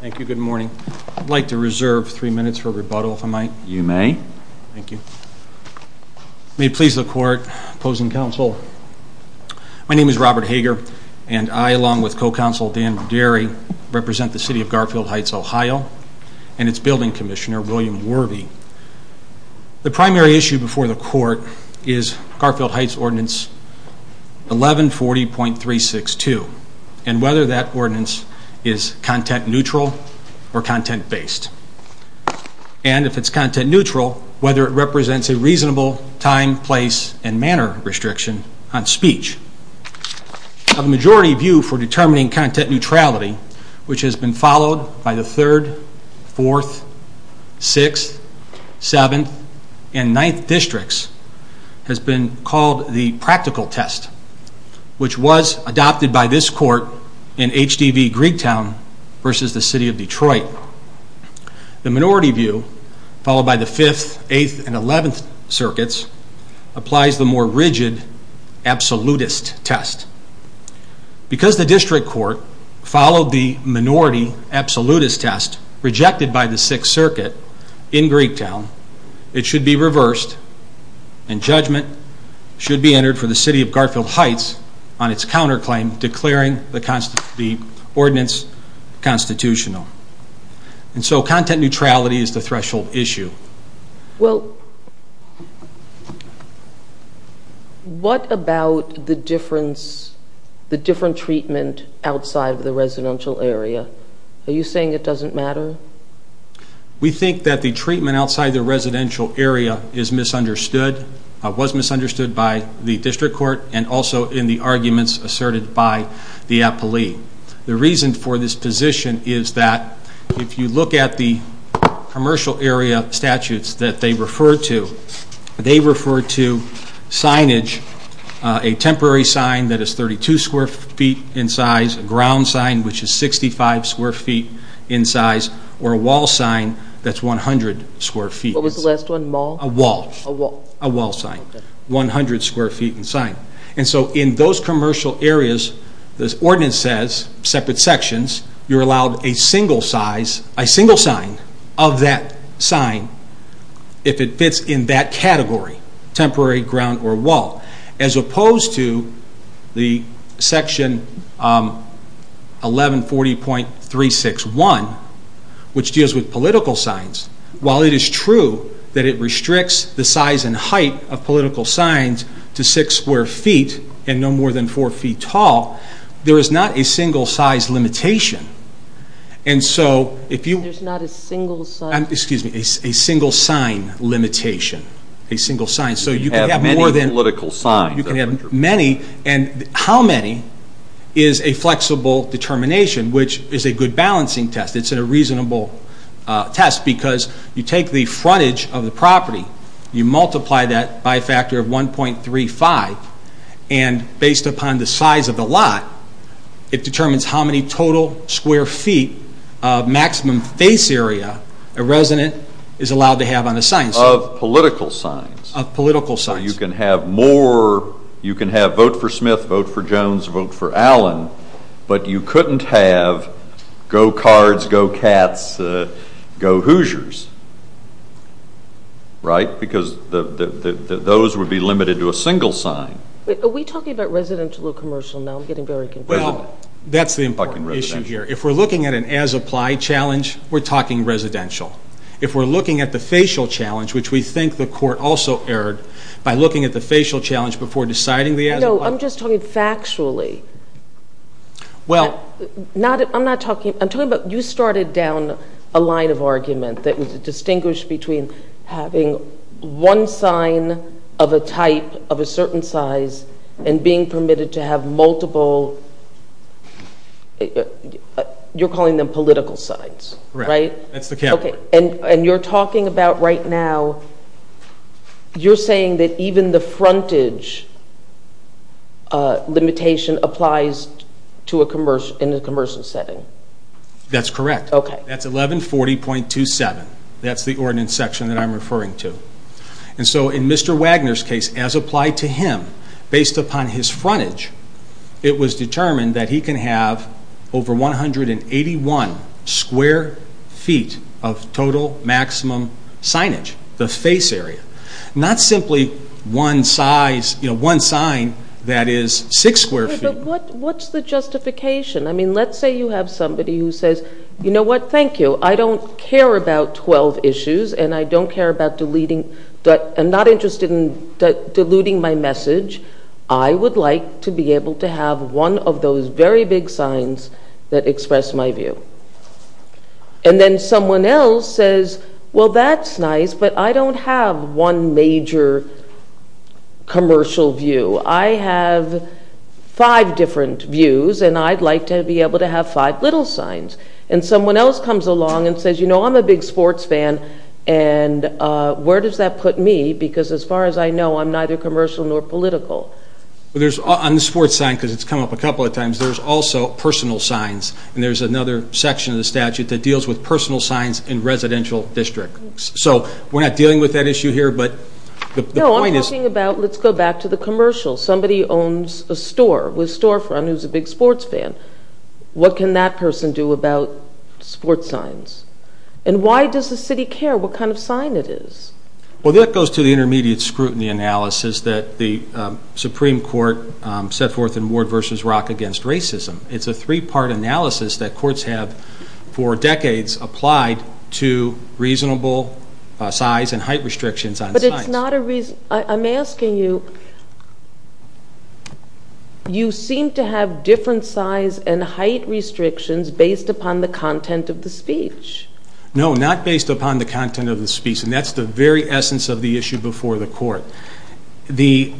Thank you. Good morning. I'd like to reserve three minutes for rebuttal, if I might. You may. Thank you. May it please the court, opposing counsel, my name is Robert Hager, and I along with co-counsel Dan Buderi represent the City of Garfield Heights, Ohio, and its Building Commissioner, William Worvey. The primary issue before the court is Garfield Heights Ordinance 1140.362, and whether that ordinance is content neutral or content based. And if it's content neutral, whether it represents a reasonable time, place, and manner restriction on speech. A majority view for determining content neutrality, which has been followed by the 3rd, 4th, 6th, 7th, and 9th districts, has been called the practical test, which was adopted by this court in HDV-Greegtown versus the City of Detroit. The minority view, followed by the 5th, 8th, and 11th circuits, applies the more rigid absolutist test. Because the district court followed the minority absolutist test rejected by the 6th circuit in Greegtown, it should be reversed and judgment should be entered for the City of Garfield Heights on its counterclaim declaring the ordinance constitutional. And so content neutrality is the threshold issue. Well, what about the difference, the different treatment outside of the residential area? Are you saying it doesn't matter? We think that the treatment outside the residential area is misunderstood, was misunderstood by the district court, and also in the arguments asserted by the appellee. The reason for this position is that if you look at the commercial area statutes that they refer to, they refer to signage, a temporary sign that is 32 square feet in size, a ground sign which is 65 square feet in size, or a wall sign that's 100 square feet. What was the last one, mall? A wall. A wall. A wall sign, 100 square feet in size. And so in those commercial areas, the ordinance says, separate sections, you're allowed a single sign of that sign if it fits in that category, temporary, ground, or wall. As opposed to the section 1140.361, which deals with political signs, while it is true that it restricts the size and height of political signs to six square feet and no more than four feet tall, there is not a single size limitation. And so if you... There's not a single size... Excuse me, a single sign limitation, a single sign. So you can have more than... You can have many political signs. You can have many. And how many is a flexible determination, which is a good balancing test. It's a reasonable test because you take the frontage of the property, you multiply that by a factor of 1.35, and based upon the size of the lot, it determines how many total square feet of maximum face area a resident is allowed to have on a sign. Of political signs. Of political signs. So you can have more, you can have vote for Smith, vote for Jones, vote for Allen, but you couldn't have go Cards, go Cats, go Hoosiers. Right? Because those would be limited to a single sign. Are we talking about residential or commercial now? I'm getting very confused. Well, that's the important issue here. If we're looking at an as-applied challenge, we're talking residential. If we're looking at the facial challenge, which we think the court also erred by looking at the facial challenge before deciding the as-applied... No, I'm just talking factually. Well... I'm not talking... I'm talking about you started down a line of argument that was distinguished between having one sign of a type of a certain size and being permitted to have multiple... You're calling them political signs, right? That's the category. And you're talking about right now, you're saying that even the frontage limitation applies in a commercial setting. That's correct. Okay. That's 1140.27. That's the ordinance section that I'm referring to. And so in Mr. Wagner's case, as applied to him, based upon his frontage, it was determined that he can have over 181 square feet of total maximum signage, the face area. Not simply one sign that is six square feet. But what's the justification? I mean, let's say you have somebody who says, you know what, thank you. I don't care about 12 issues and I don't care about deleting... I'm not interested in diluting my message. I would like to be able to have one of those very big signs that express my view. And then someone else says, well, that's nice, but I don't have one major commercial view. I have five different views and I'd like to be able to have five little signs. And someone else comes along and says, you know, I'm a big sports fan, and where does that put me? Because as far as I know, I'm neither commercial nor political. On the sports sign, because it's come up a couple of times, there's also personal signs. And there's another section of the statute that deals with personal signs in residential districts. So we're not dealing with that issue here, but the point is... No, I'm talking about, let's go back to the commercial. Somebody owns a store with storefront who's a big sports fan. What can that person do about sports signs? And why does the city care what kind of sign it is? Well, that goes to the intermediate scrutiny analysis that the Supreme Court set forth in Ward v. Rock against racism. It's a three-part analysis that courts have for decades applied to reasonable size and height restrictions on signs. I'm asking you, you seem to have different size and height restrictions based upon the content of the speech. No, not based upon the content of the speech. And that's the very essence of the issue before the court. The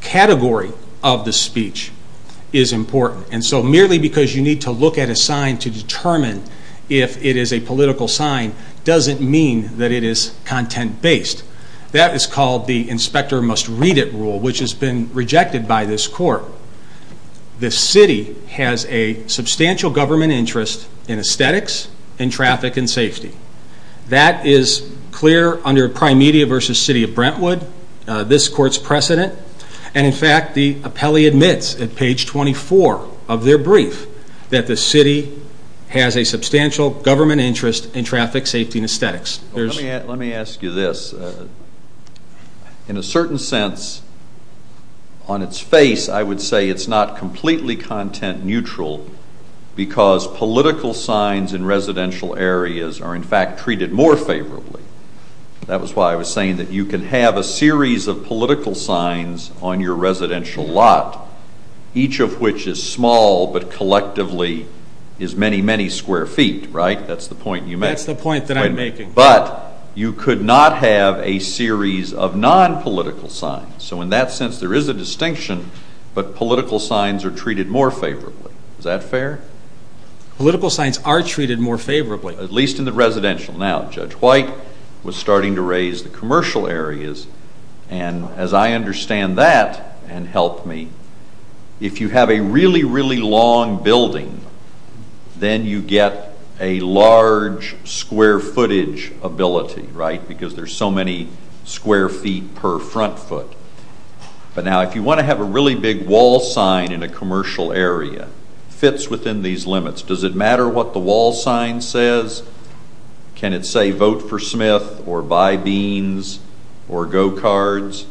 category of the speech is important. And so merely because you need to look at a sign to determine if it is a political sign doesn't mean that it is content-based. That is called the inspector must read it rule, which has been rejected by this court. The city has a substantial government interest in aesthetics and traffic and safety. That is clear under Prime Media v. City of Brentwood, this court's precedent. And in fact, the appellee admits at page 24 of their brief that the city has a substantial government interest in traffic, safety, and aesthetics. Let me ask you this. In a certain sense, on its face, I would say it's not completely content-neutral because political signs in residential areas are in fact treated more favorably. That was why I was saying that you can have a series of political signs on your residential lot, each of which is small but collectively is many, many square feet, right? That's the point you make. That's the point that I'm making. But you could not have a series of non-political signs. So in that sense, there is a distinction, but political signs are treated more favorably. Is that fair? Political signs are treated more favorably. At least in the residential. Now, Judge White was starting to raise the commercial areas. And as I understand that, and help me, if you have a really, really long building, then you get a large square footage ability, right? Because there's so many square feet per front foot. But now, if you want to have a really big wall sign in a commercial area, it fits within these limits. Does it matter what the wall sign says? Can it say, vote for Smith or buy beans or go cards?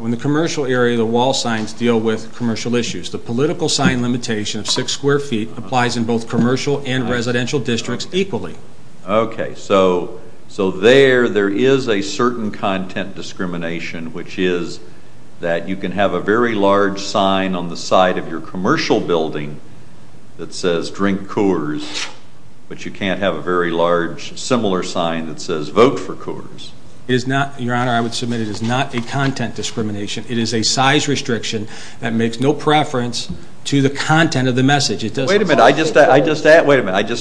In the commercial area, the wall signs deal with commercial issues. The political sign limitation of six square feet applies in both commercial and residential districts equally. Okay. So there, there is a certain content discrimination, which is that you can have a very large sign on the side of your commercial building that says, drink Coors, but you can't have a very large similar sign that says, vote for Coors. Your Honor, I would submit it is not a content discrimination. It is a size restriction that makes no preference to the content of the message. Wait a minute. I just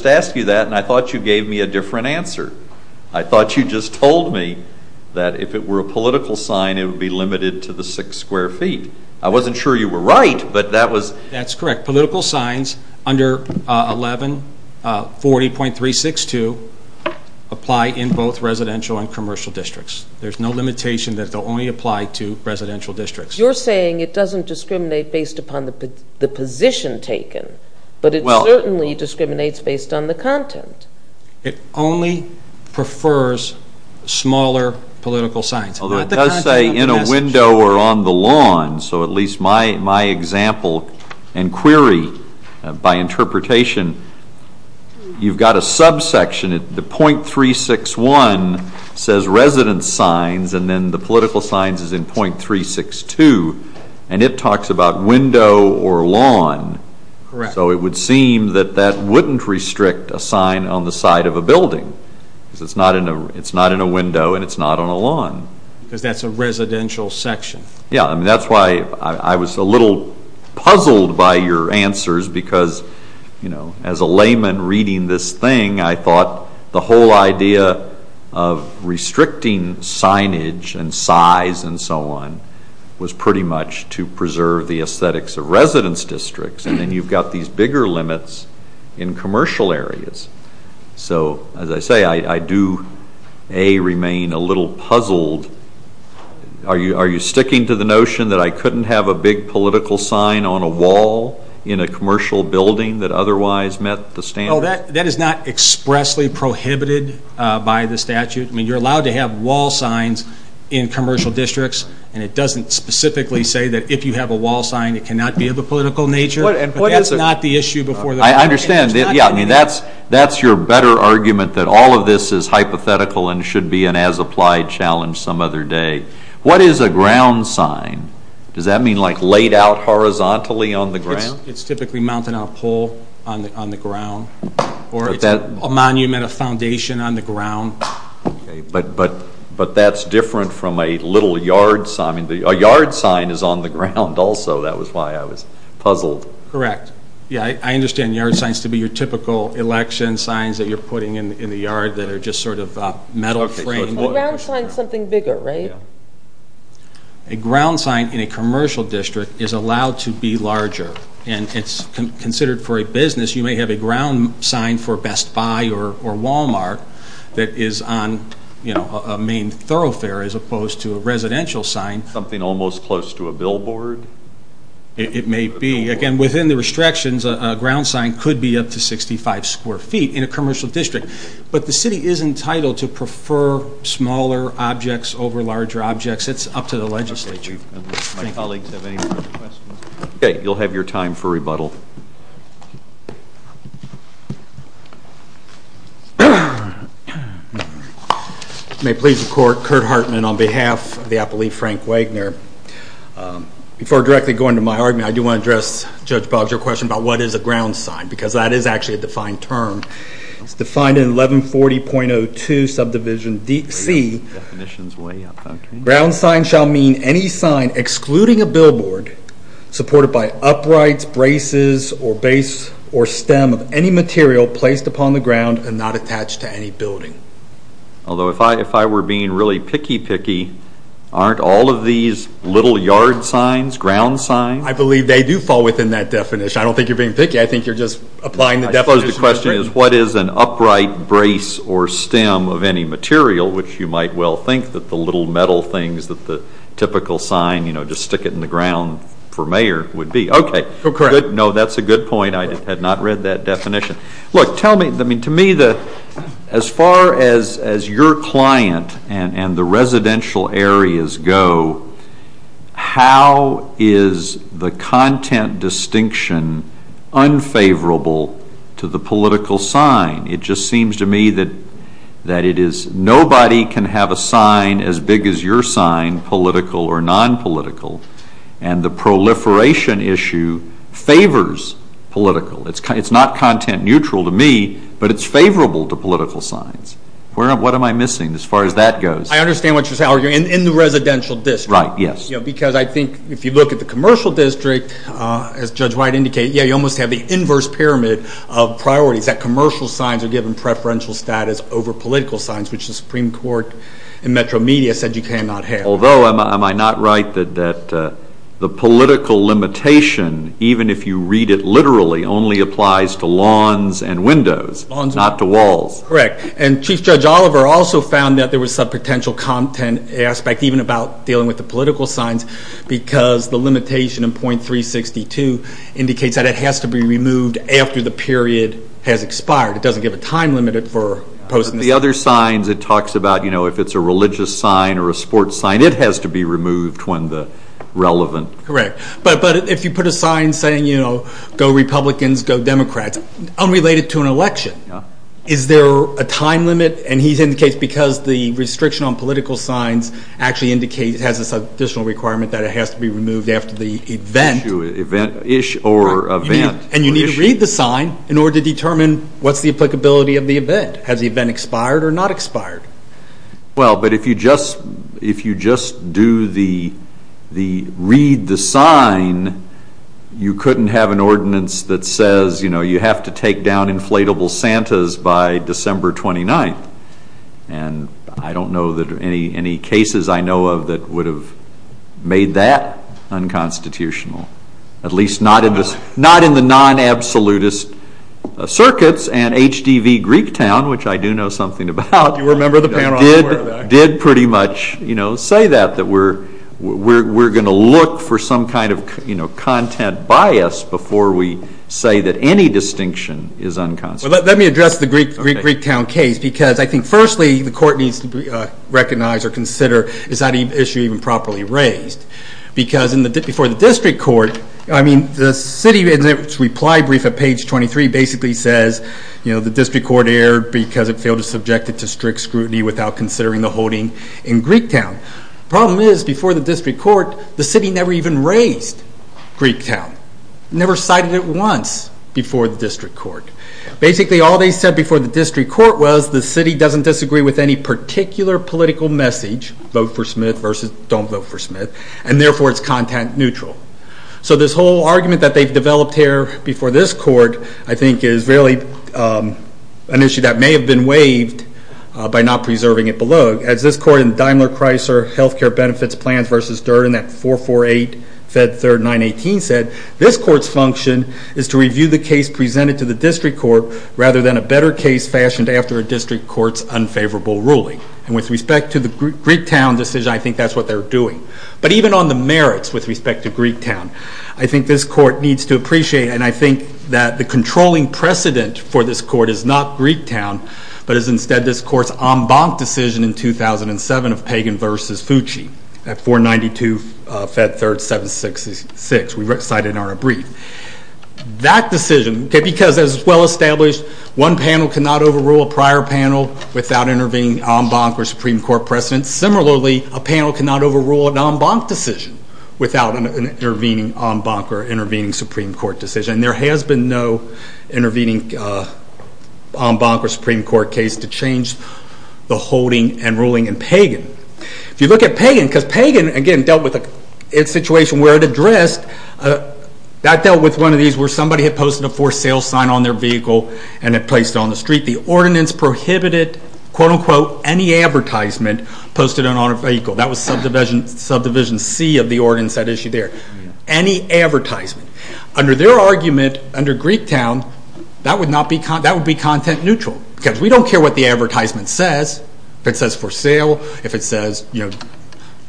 asked you that, and I thought you gave me a different answer. I thought you just told me that if it were a political sign, it would be limited to the six square feet. I wasn't sure you were right, but that was. That's correct. Political signs under 1140.362 apply in both residential and commercial districts. There's no limitation that they'll only apply to residential districts. You're saying it doesn't discriminate based upon the position taken, but it certainly discriminates based on the content. It only prefers smaller political signs. Although it does say in a window or on the lawn, so at least my example and query by interpretation, you've got a subsection. The .361 says resident signs, and then the political signs is in .362, and it talks about window or lawn. Correct. So it would seem that that wouldn't restrict a sign on the side of a building because it's not in a window and it's not on a lawn. Because that's a residential section. That's why I was a little puzzled by your answers because as a layman reading this thing, I thought the whole idea of restricting signage and size and so on was pretty much to preserve the aesthetics of residence districts, and then you've got these bigger limits in commercial areas. So as I say, I do, A, remain a little puzzled. Are you sticking to the notion that I couldn't have a big political sign on a wall in a commercial building that otherwise met the standards? No, that is not expressly prohibited by the statute. I mean, you're allowed to have wall signs in commercial districts, and it doesn't specifically say that if you have a wall sign, it cannot be of a political nature. I understand. That's your better argument that all of this is hypothetical and should be an as-applied challenge some other day. What is a ground sign? Does that mean like laid out horizontally on the ground? It's typically mounted on a pole on the ground, or it's a monument, a foundation on the ground. But that's different from a little yard sign. A yard sign is on the ground also. That was why I was puzzled. Correct. Yeah, I understand yard signs to be your typical election signs that you're putting in the yard that are just sort of metal framed. A ground sign is something bigger, right? A ground sign in a commercial district is allowed to be larger. And it's considered for a business. You may have a ground sign for Best Buy or Walmart that is on a main thoroughfare as opposed to a residential sign. Something almost close to a billboard? It may be. Again, within the restrictions, a ground sign could be up to 65 square feet in a commercial district. But the city is entitled to prefer smaller objects over larger objects. It's up to the legislature. My colleagues have any further questions? Okay, you'll have your time for rebuttal. May it please the Court, Kurt Hartman on behalf of the Appellee Frank Wagner. Before directly going to my argument, I do want to address Judge Boggs, your question about what is a ground sign. Because that is actually a defined term. It's defined in 1140.02 subdivision C. Ground sign shall mean any sign excluding a billboard supported by uprights, braces, or base or stem of any material placed upon the ground and not attached to any building. Although if I were being really picky picky, aren't all of these little yard signs, ground signs? I believe they do fall within that definition. I don't think you're being picky. I think you're just applying the definition. I suppose the question is what is an upright brace or stem of any material, which you might well think that the little metal things that the typical sign, you know, just stick it in the ground for mayor would be. Okay. No, that's a good point. I had not read that definition. Look, tell me, to me, as far as your client and the residential areas go, how is the content distinction unfavorable to the political sign? It just seems to me that it is nobody can have a sign as big as your sign, political or nonpolitical, and the proliferation issue favors political. It's not content neutral to me, but it's favorable to political signs. What am I missing as far as that goes? I understand what you're arguing. In the residential district. Right, yes. Because I think if you look at the commercial district, as Judge White indicated, you almost have the inverse pyramid of priorities. That commercial signs are given preferential status over political signs, which the Supreme Court in Metro Media said you cannot have. Although, am I not right that the political limitation, even if you read it literally, only applies to lawns and windows, not to walls? Correct. And Chief Judge Oliver also found that there was some potential content aspect, even about dealing with the political signs, because the limitation in .362 indicates that it has to be removed after the period has expired. It doesn't give a time limit for posting the sign. If it's a religious sign or a sports sign, it has to be removed when relevant. Correct. But if you put a sign saying, you know, go Republicans, go Democrats, unrelated to an election, is there a time limit? And he indicates because the restriction on political signs actually indicates, has this additional requirement that it has to be removed after the event. Issue or event. And you need to read the sign in order to determine what's the applicability of the event. Has the event expired or not expired? Well, but if you just do the read the sign, you couldn't have an ordinance that says, you know, you have to take down inflatable Santas by December 29th. And I don't know that any cases I know of that would have made that unconstitutional, at least not in the non-absolutist circuits. And HDV Greektown, which I do know something about, did pretty much, you know, say that. That we're going to look for some kind of, you know, content bias before we say that any distinction is unconstitutional. Let me address the Greektown case because I think, firstly, the court needs to recognize or consider, is that issue even properly raised? Because before the district court, I mean, the city in its reply brief at page 23 basically says, you know, the district court erred because it failed to subject it to strict scrutiny without considering the holding in Greektown. Problem is, before the district court, the city never even raised Greektown. Never cited it once before the district court. Basically, all they said before the district court was the city doesn't disagree with any particular political message, vote for Smith versus don't vote for Smith, and therefore it's content neutral. So this whole argument that they've developed here before this court, I think, is really an issue that may have been waived by not preserving it below. As this court in Daimler-Chrysler Healthcare Benefits Plans v. Durden, that 448 Fed 3rd 918 said, this court's function is to review the case presented to the district court rather than a better case fashioned after a district court's unfavorable ruling. And with respect to the Greektown decision, I think that's what they're doing. But even on the merits with respect to Greektown, I think this court needs to appreciate, and I think that the controlling precedent for this court is not Greektown, but is instead this court's en banc decision in 2007 of Pagan v. Fucci at 492 Fed 3rd 766. We cited in our brief. That decision, because as well established, one panel cannot overrule a prior panel without intervening en banc or Supreme Court precedent. Similarly, a panel cannot overrule an en banc decision without an intervening en banc or intervening Supreme Court decision. And there has been no intervening en banc or Supreme Court case to change the holding and ruling in Pagan. If you look at Pagan, because Pagan, again, dealt with a situation where it addressed, that dealt with one of these where somebody had posted a for sale sign on their vehicle and had placed it on the street. The ordinance prohibited, quote unquote, any advertisement posted on a vehicle. That was subdivision C of the ordinance that issued there. Any advertisement. Under their argument, under Greektown, that would be content neutral. Because we don't care what the advertisement says. If it says for sale, if it says, you know,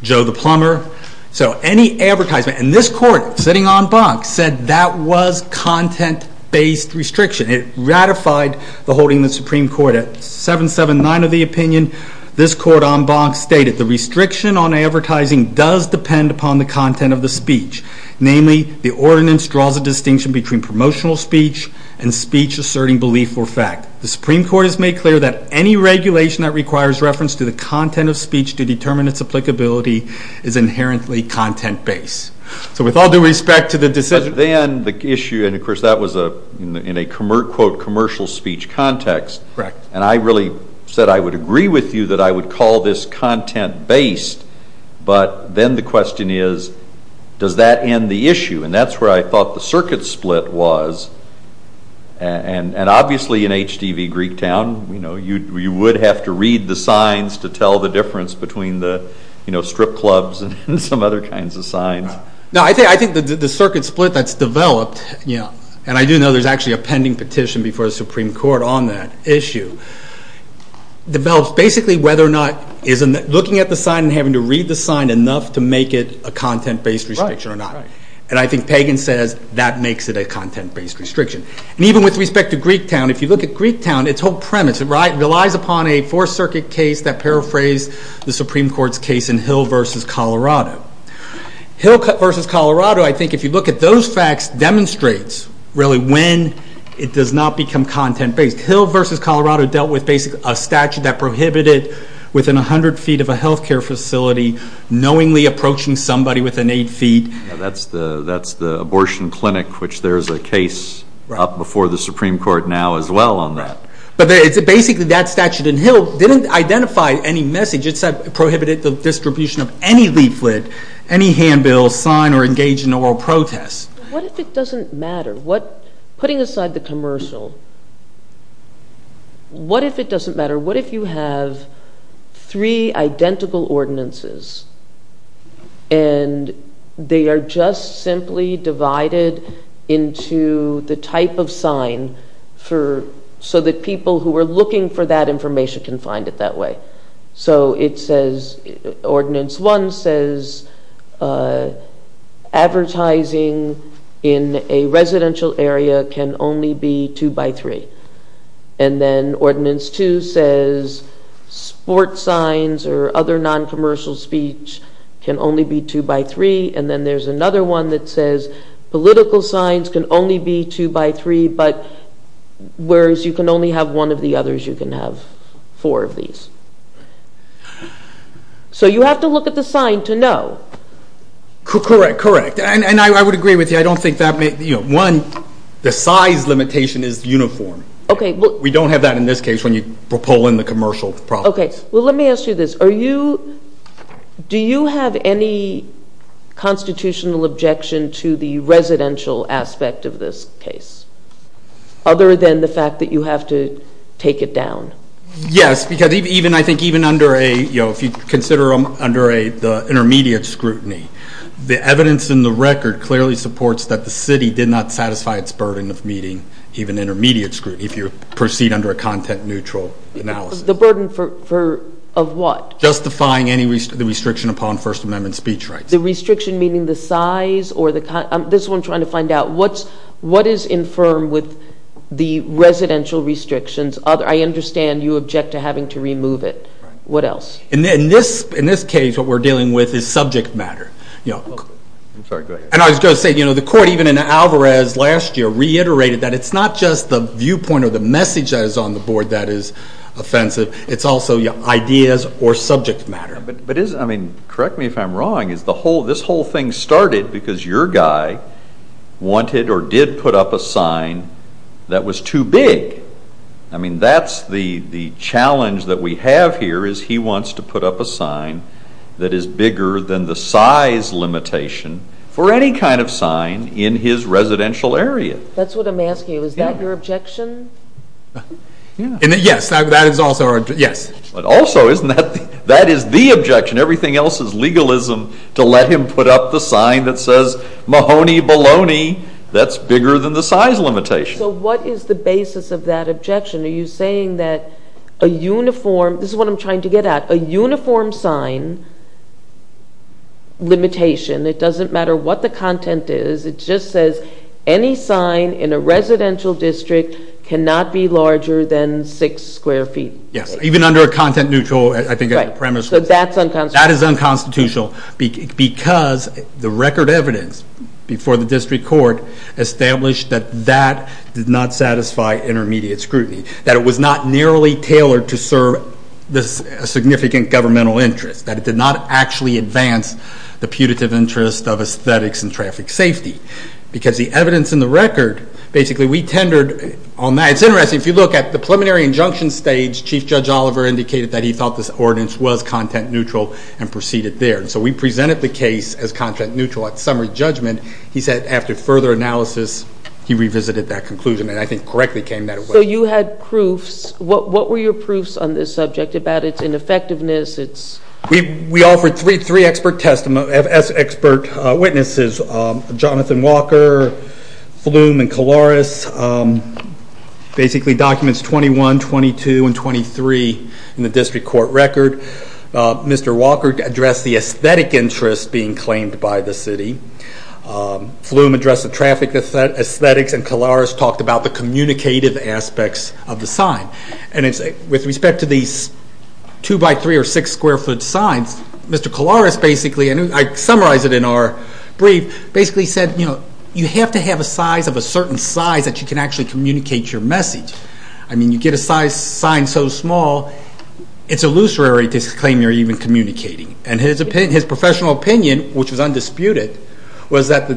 Joe the plumber. So any advertisement. And this court, sitting en banc, said that was content based restriction. It ratified the holding of the Supreme Court. At 779 of the opinion, this court en banc stated, the restriction on advertising does depend upon the content of the speech. Namely, the ordinance draws a distinction between promotional speech and speech asserting belief or fact. The Supreme Court has made clear that any regulation that requires reference to the content of speech to determine its applicability is inherently content based. So with all due respect to the decision. But then the issue, and of course that was in a quote commercial speech context. Correct. And I really said I would agree with you that I would call this content based. But then the question is, does that end the issue? And that's where I thought the circuit split was. And obviously in HDV Greektown, you know, you would have to read the signs to tell the difference between the, you know, strip clubs and some other kinds of signs. No, I think the circuit split that's developed, you know, and I do know there's actually a pending petition before the Supreme Court on that issue. Develops basically whether or not, looking at the sign and having to read the sign enough to make it a content based restriction or not. And I think Pagan says that makes it a content based restriction. And even with respect to Greektown, if you look at Greektown, its whole premise relies upon a four circuit case that paraphrased the Supreme Court's case in Hill versus Colorado. Hill versus Colorado, I think if you look at those facts, demonstrates really when it does not become content based. Hill versus Colorado dealt with basically a statute that prohibited within 100 feet of a healthcare facility knowingly approaching somebody within 8 feet. That's the abortion clinic, which there's a case up before the Supreme Court now as well on that. But basically that statute in Hill didn't identify any message. It prohibited the distribution of any leaflet, any handbill, sign or engage in oral protest. What if it doesn't matter? Putting aside the commercial, what if it doesn't matter? What if you have three identical ordinances and they are just simply divided into the type of sign so that people who are looking for that information can find it that way? So it says, Ordinance 1 says advertising in a residential area can only be two by three. And then Ordinance 2 says sports signs or other non-commercial speech can only be two by three. And then there's another one that says political signs can only be two by three, but whereas you can only have one of the others, you can have four of these. So you have to look at the sign to know. Correct, correct. And I would agree with you. I don't think that one, the size limitation is uniform. We don't have that in this case when you pull in the commercial properties. Okay. Well, let me ask you this. Do you have any constitutional objection to the residential aspect of this case other than the fact that you have to take it down? Yes, because I think even under a, if you consider under the intermediate scrutiny, the evidence in the record clearly supports that the city did not satisfy its burden of meeting even intermediate scrutiny if you proceed under a content-neutral analysis. The burden for, of what? Justifying any restriction upon First Amendment speech rights. The restriction meaning the size or the, this is what I'm trying to find out. What is infirm with the residential restrictions? I understand you object to having to remove it. What else? In this case, what we're dealing with is subject matter. I'm sorry, go ahead. And I was going to say, you know, the court even in Alvarez last year reiterated that it's not just the viewpoint or the message that is on the board that is offensive. It's also your ideas or subject matter. But is, I mean, correct me if I'm wrong, is the whole, this whole thing started because your guy wanted or did put up a sign that was too big. I mean, that's the challenge that we have here is he wants to put up a sign that is bigger than the size limitation for any kind of sign in his residential area. That's what I'm asking. Is that your objection? Yes, that is also our, yes. But also, isn't that, that is the objection. Everything else is legalism to let him put up the sign that says Mahoney-Baloney. That's bigger than the size limitation. So what is the basis of that objection? Are you saying that a uniform, this is what I'm trying to get at, a uniform sign limitation. It doesn't matter what the content is. It just says any sign in a residential district cannot be larger than six square feet. Yes, even under a content neutral, I think, premise. So that's unconstitutional. Because the record evidence before the district court established that that did not satisfy intermediate scrutiny. That it was not narrowly tailored to serve a significant governmental interest. That it did not actually advance the putative interest of aesthetics and traffic safety. Because the evidence in the record, basically we tendered on that. It's interesting, if you look at the preliminary injunction stage, Chief Judge Oliver indicated that he thought this ordinance was content neutral and proceeded there. So we presented the case as content neutral at summary judgment. He said after further analysis, he revisited that conclusion. And I think correctly came that way. So you had proofs. What were your proofs on this subject about its ineffectiveness? We offered three expert witnesses, Jonathan Walker, Flum, and Kolaris. Basically documents 21, 22, and 23 in the district court record. Mr. Walker addressed the aesthetic interest being claimed by the city. Flum addressed the traffic aesthetics. And Kolaris talked about the communicative aspects of the sign. And with respect to these two by three or six square foot signs, Mr. Kolaris basically, and I summarize it in our brief, basically said you have to have a size of a certain size that you can actually communicate your message. I mean, you get a sign so small, it's illusory to claim you're even communicating. And his professional opinion, which was undisputed, was that the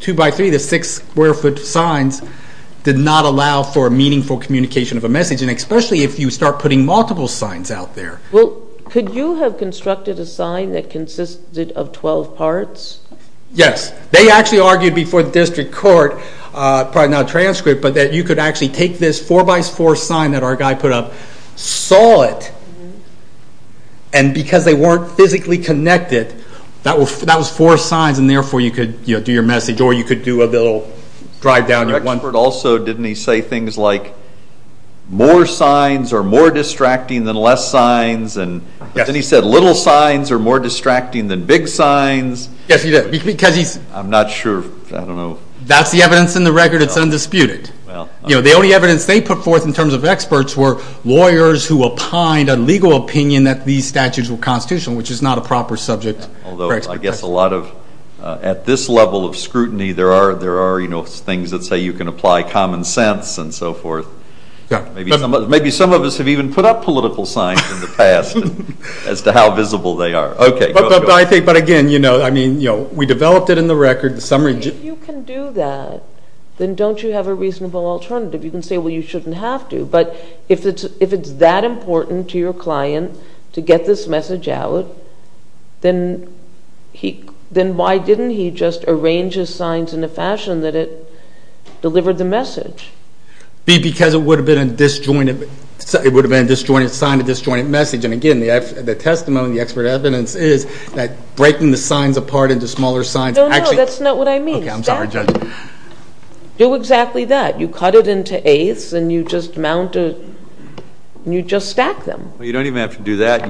two by three to six square foot signs did not allow for meaningful communication of a message, and especially if you start putting multiple signs out there. Well, could you have constructed a sign that consisted of 12 parts? Yes. They actually argued before the district court, probably not a transcript, but that you could actually take this four by four sign that our guy put up, saw it, and because they weren't physically connected, that was four signs, and therefore you could do your message or you could do a little drive down your one. The expert also, didn't he say things like more signs are more distracting than less signs? Yes. And then he said little signs are more distracting than big signs. Yes, he did. I'm not sure, I don't know. That's the evidence in the record. It's undisputed. The only evidence they put forth in terms of experts were lawyers who opined a legal opinion that these statutes were constitutional, which is not a proper subject. Although I guess a lot of, at this level of scrutiny, there are things that say you can apply common sense and so forth. Maybe some of us have even put up political signs in the past as to how visible they are. But again, we developed it in the record. If you can do that, then don't you have a reasonable alternative? You can say, well, you shouldn't have to. But if it's that important to your client to get this message out, then why didn't he just arrange his signs in a fashion that it delivered the message? Because it would have been a disjointed sign, a disjointed message. And again, the testimony, the expert evidence is that breaking the signs apart into smaller signs. No, no, that's not what I mean. Okay, I'm sorry, Judge. Do exactly that. You cut it into eighths and you just stack them. Well, you don't even have to do that.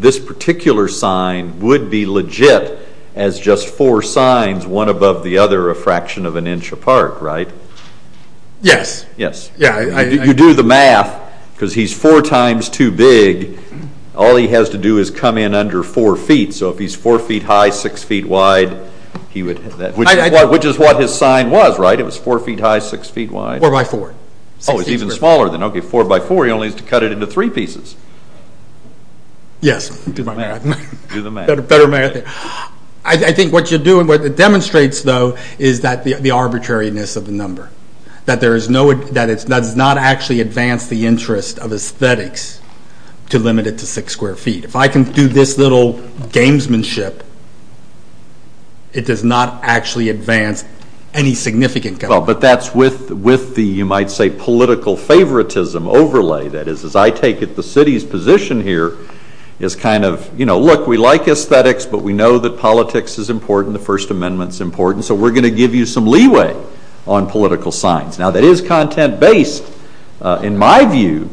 This particular sign would be legit as just four signs, one above the other a fraction of an inch apart, right? Yes. Yes. You do the math because he's four times too big. All he has to do is come in under four feet. So if he's four feet high, six feet wide, he would have that. Which is what his sign was, right? It was four feet high, six feet wide. Four by four. Oh, it's even smaller than that. Okay, four by four. He only has to cut it into three pieces. Yes. Do the math. Better math. I think what you're doing, what it demonstrates, though, is the arbitrariness of the number. That it does not actually advance the interest of aesthetics to limit it to six square feet. If I can do this little gamesmanship, it does not actually advance any significant goal. Well, but that's with the, you might say, political favoritism overlay. That is, as I take it, the city's position here is kind of, you know, look, we like aesthetics, but we know that politics is important. The First Amendment's important. So we're going to give you some leeway on political signs. Now, that is content-based, in my view,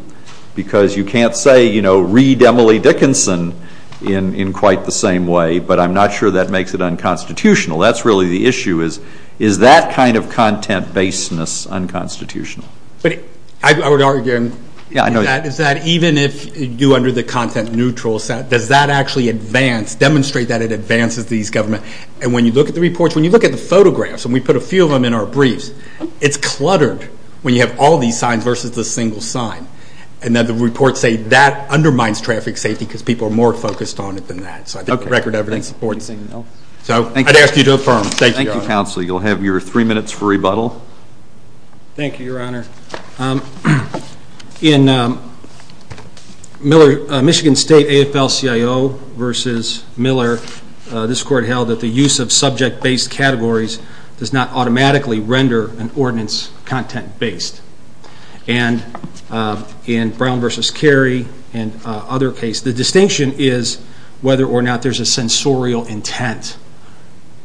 because you can't say, you know, read Emily Dickinson in quite the same way. But I'm not sure that makes it unconstitutional. That's really the issue is, is that kind of content-basedness unconstitutional? But I would argue that even if you're under the content-neutral set, does that actually advance, demonstrate that it advances these government? And when you look at the reports, when you look at the photographs, and we put a few of them in our briefs, it's cluttered when you have all these signs versus the single sign. And then the reports say that undermines traffic safety because people are more focused on it than that. So I think record evidence supports it. So I'd ask you to affirm. Thank you, Your Honor. Thank you, Counsel. You'll have your three minutes for rebuttal. Thank you, Your Honor. In Michigan State AFL-CIO v. Miller, this court held that the use of subject-based categories does not automatically render an ordinance content-based. And in Brown v. Carey and other cases, the distinction is whether or not there's a sensorial intent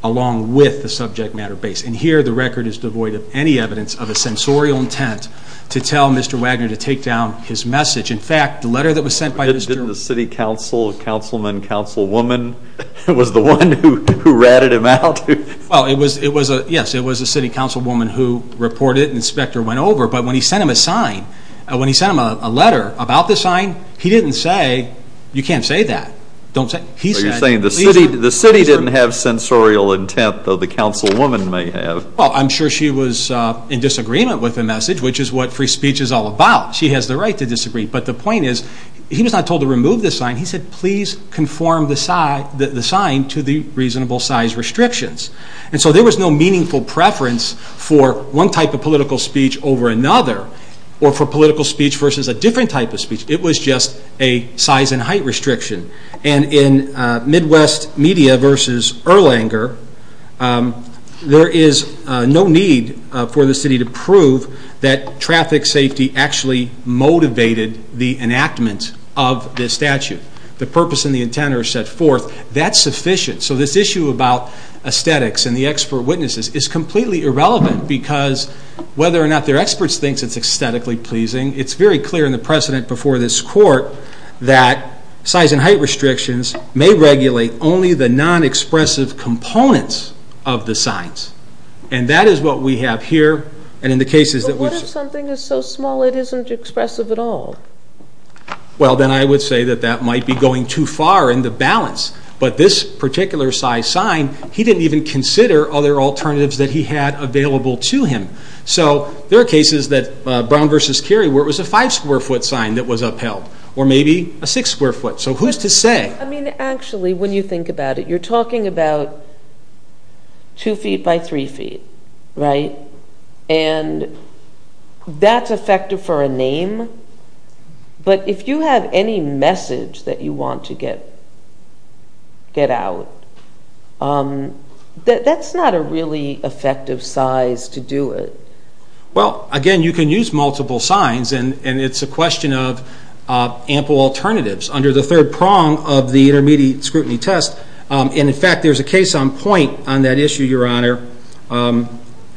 along with the subject matter base. And here the record is devoid of any evidence of a sensorial intent to tell Mr. Wagner to take down his message. In fact, the letter that was sent by Mr. Wagner. Didn't the city council, councilman, councilwoman, was the one who ratted him out? Well, yes, it was a city councilwoman who reported it and the inspector went over. But when he sent him a sign, when he sent him a letter about the sign, he didn't say, you can't say that. You're saying the city didn't have sensorial intent, though the councilwoman may have. Well, I'm sure she was in disagreement with the message, which is what free speech is all about. She has the right to disagree. But the point is, he was not told to remove the sign. He said, please conform the sign to the reasonable size restrictions. And so there was no meaningful preference for one type of political speech over another or for political speech versus a different type of speech. It was just a size and height restriction. And in Midwest Media versus Erlanger, there is no need for the city to prove that traffic safety actually motivated the enactment of this statute. The purpose and the intent are set forth. That's sufficient. So this issue about aesthetics and the expert witnesses is completely irrelevant because whether or not they're experts thinks it's aesthetically pleasing. It's very clear in the precedent before this court that size and height restrictions may regulate only the non-expressive components of the signs. And that is what we have here. But what if something is so small it isn't expressive at all? Well, then I would say that that might be going too far in the balance. But this particular size sign, he didn't even consider other alternatives that he had available to him. So there are cases that Brown versus Cary where it was a five square foot sign that was upheld or maybe a six square foot. So who's to say? I mean, actually, when you think about it, you're talking about two feet by three feet, right? But if you have any message that you want to get out, that's not a really effective size to do it. Well, again, you can use multiple signs and it's a question of ample alternatives under the third prong of the intermediate scrutiny test. And, in fact, there's a case on point on that issue, Your Honor.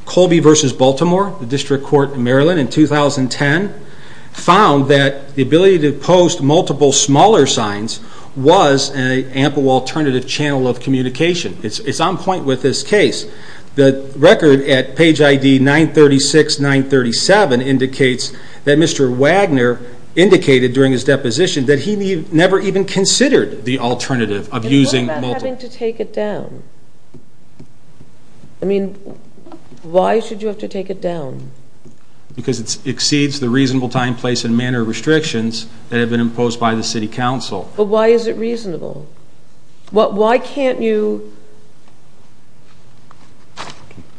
Colby versus Baltimore, the District Court in Maryland in 2010, found that the ability to post multiple smaller signs was an ample alternative channel of communication. It's on point with this case. The record at page ID 936, 937 indicates that Mr. Wagner indicated during his deposition that he never even considered the alternative of using multiple. You're having to take it down. I mean, why should you have to take it down? Because it exceeds the reasonable time, place, and manner of restrictions that have been imposed by the city council. But why is it reasonable? Why can't you?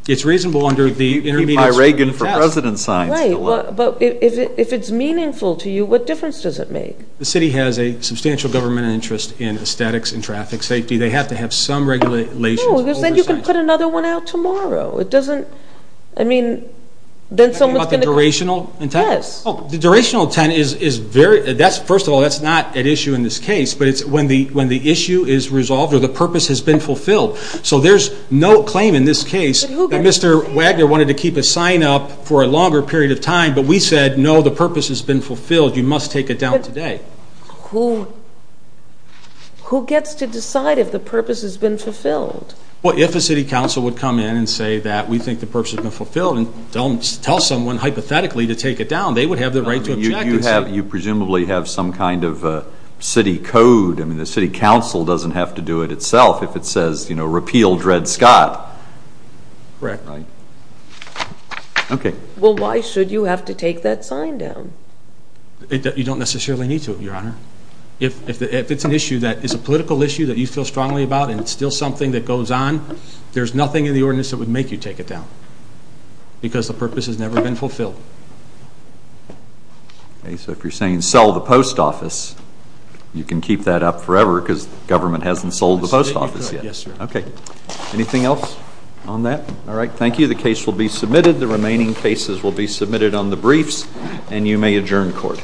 It's reasonable under the intermediate scrutiny test. By Reagan for President signs. Right. But if it's meaningful to you, what difference does it make? The city has a substantial government interest in aesthetics and traffic safety. They have to have some regulations. No, because then you can put another one out tomorrow. It doesn't, I mean, then someone's going to. You're talking about the durational intent? Yes. Oh, the durational intent is very, first of all, that's not at issue in this case, but it's when the issue is resolved or the purpose has been fulfilled. So there's no claim in this case that Mr. Wagner wanted to keep a sign up for a longer period of time, but we said, no, the purpose has been fulfilled. You must take it down today. Who gets to decide if the purpose has been fulfilled? Well, if a city council would come in and say that we think the purpose has been fulfilled and tell someone hypothetically to take it down, they would have the right to object. You presumably have some kind of city code. I mean, the city council doesn't have to do it itself if it says, you know, repeal Dred Scott. Correct. Okay. Well, why should you have to take that sign down? You don't necessarily need to, Your Honor. If it's an issue that is a political issue that you feel strongly about and it's still something that goes on, there's nothing in the ordinance that would make you take it down because the purpose has never been fulfilled. Okay, so if you're saying sell the post office, you can keep that up forever because the government hasn't sold the post office yet. Yes, sir. Okay. Anything else on that? All right. Thank you. The case will be submitted. The remaining cases will be submitted on the briefs, and you may adjourn court.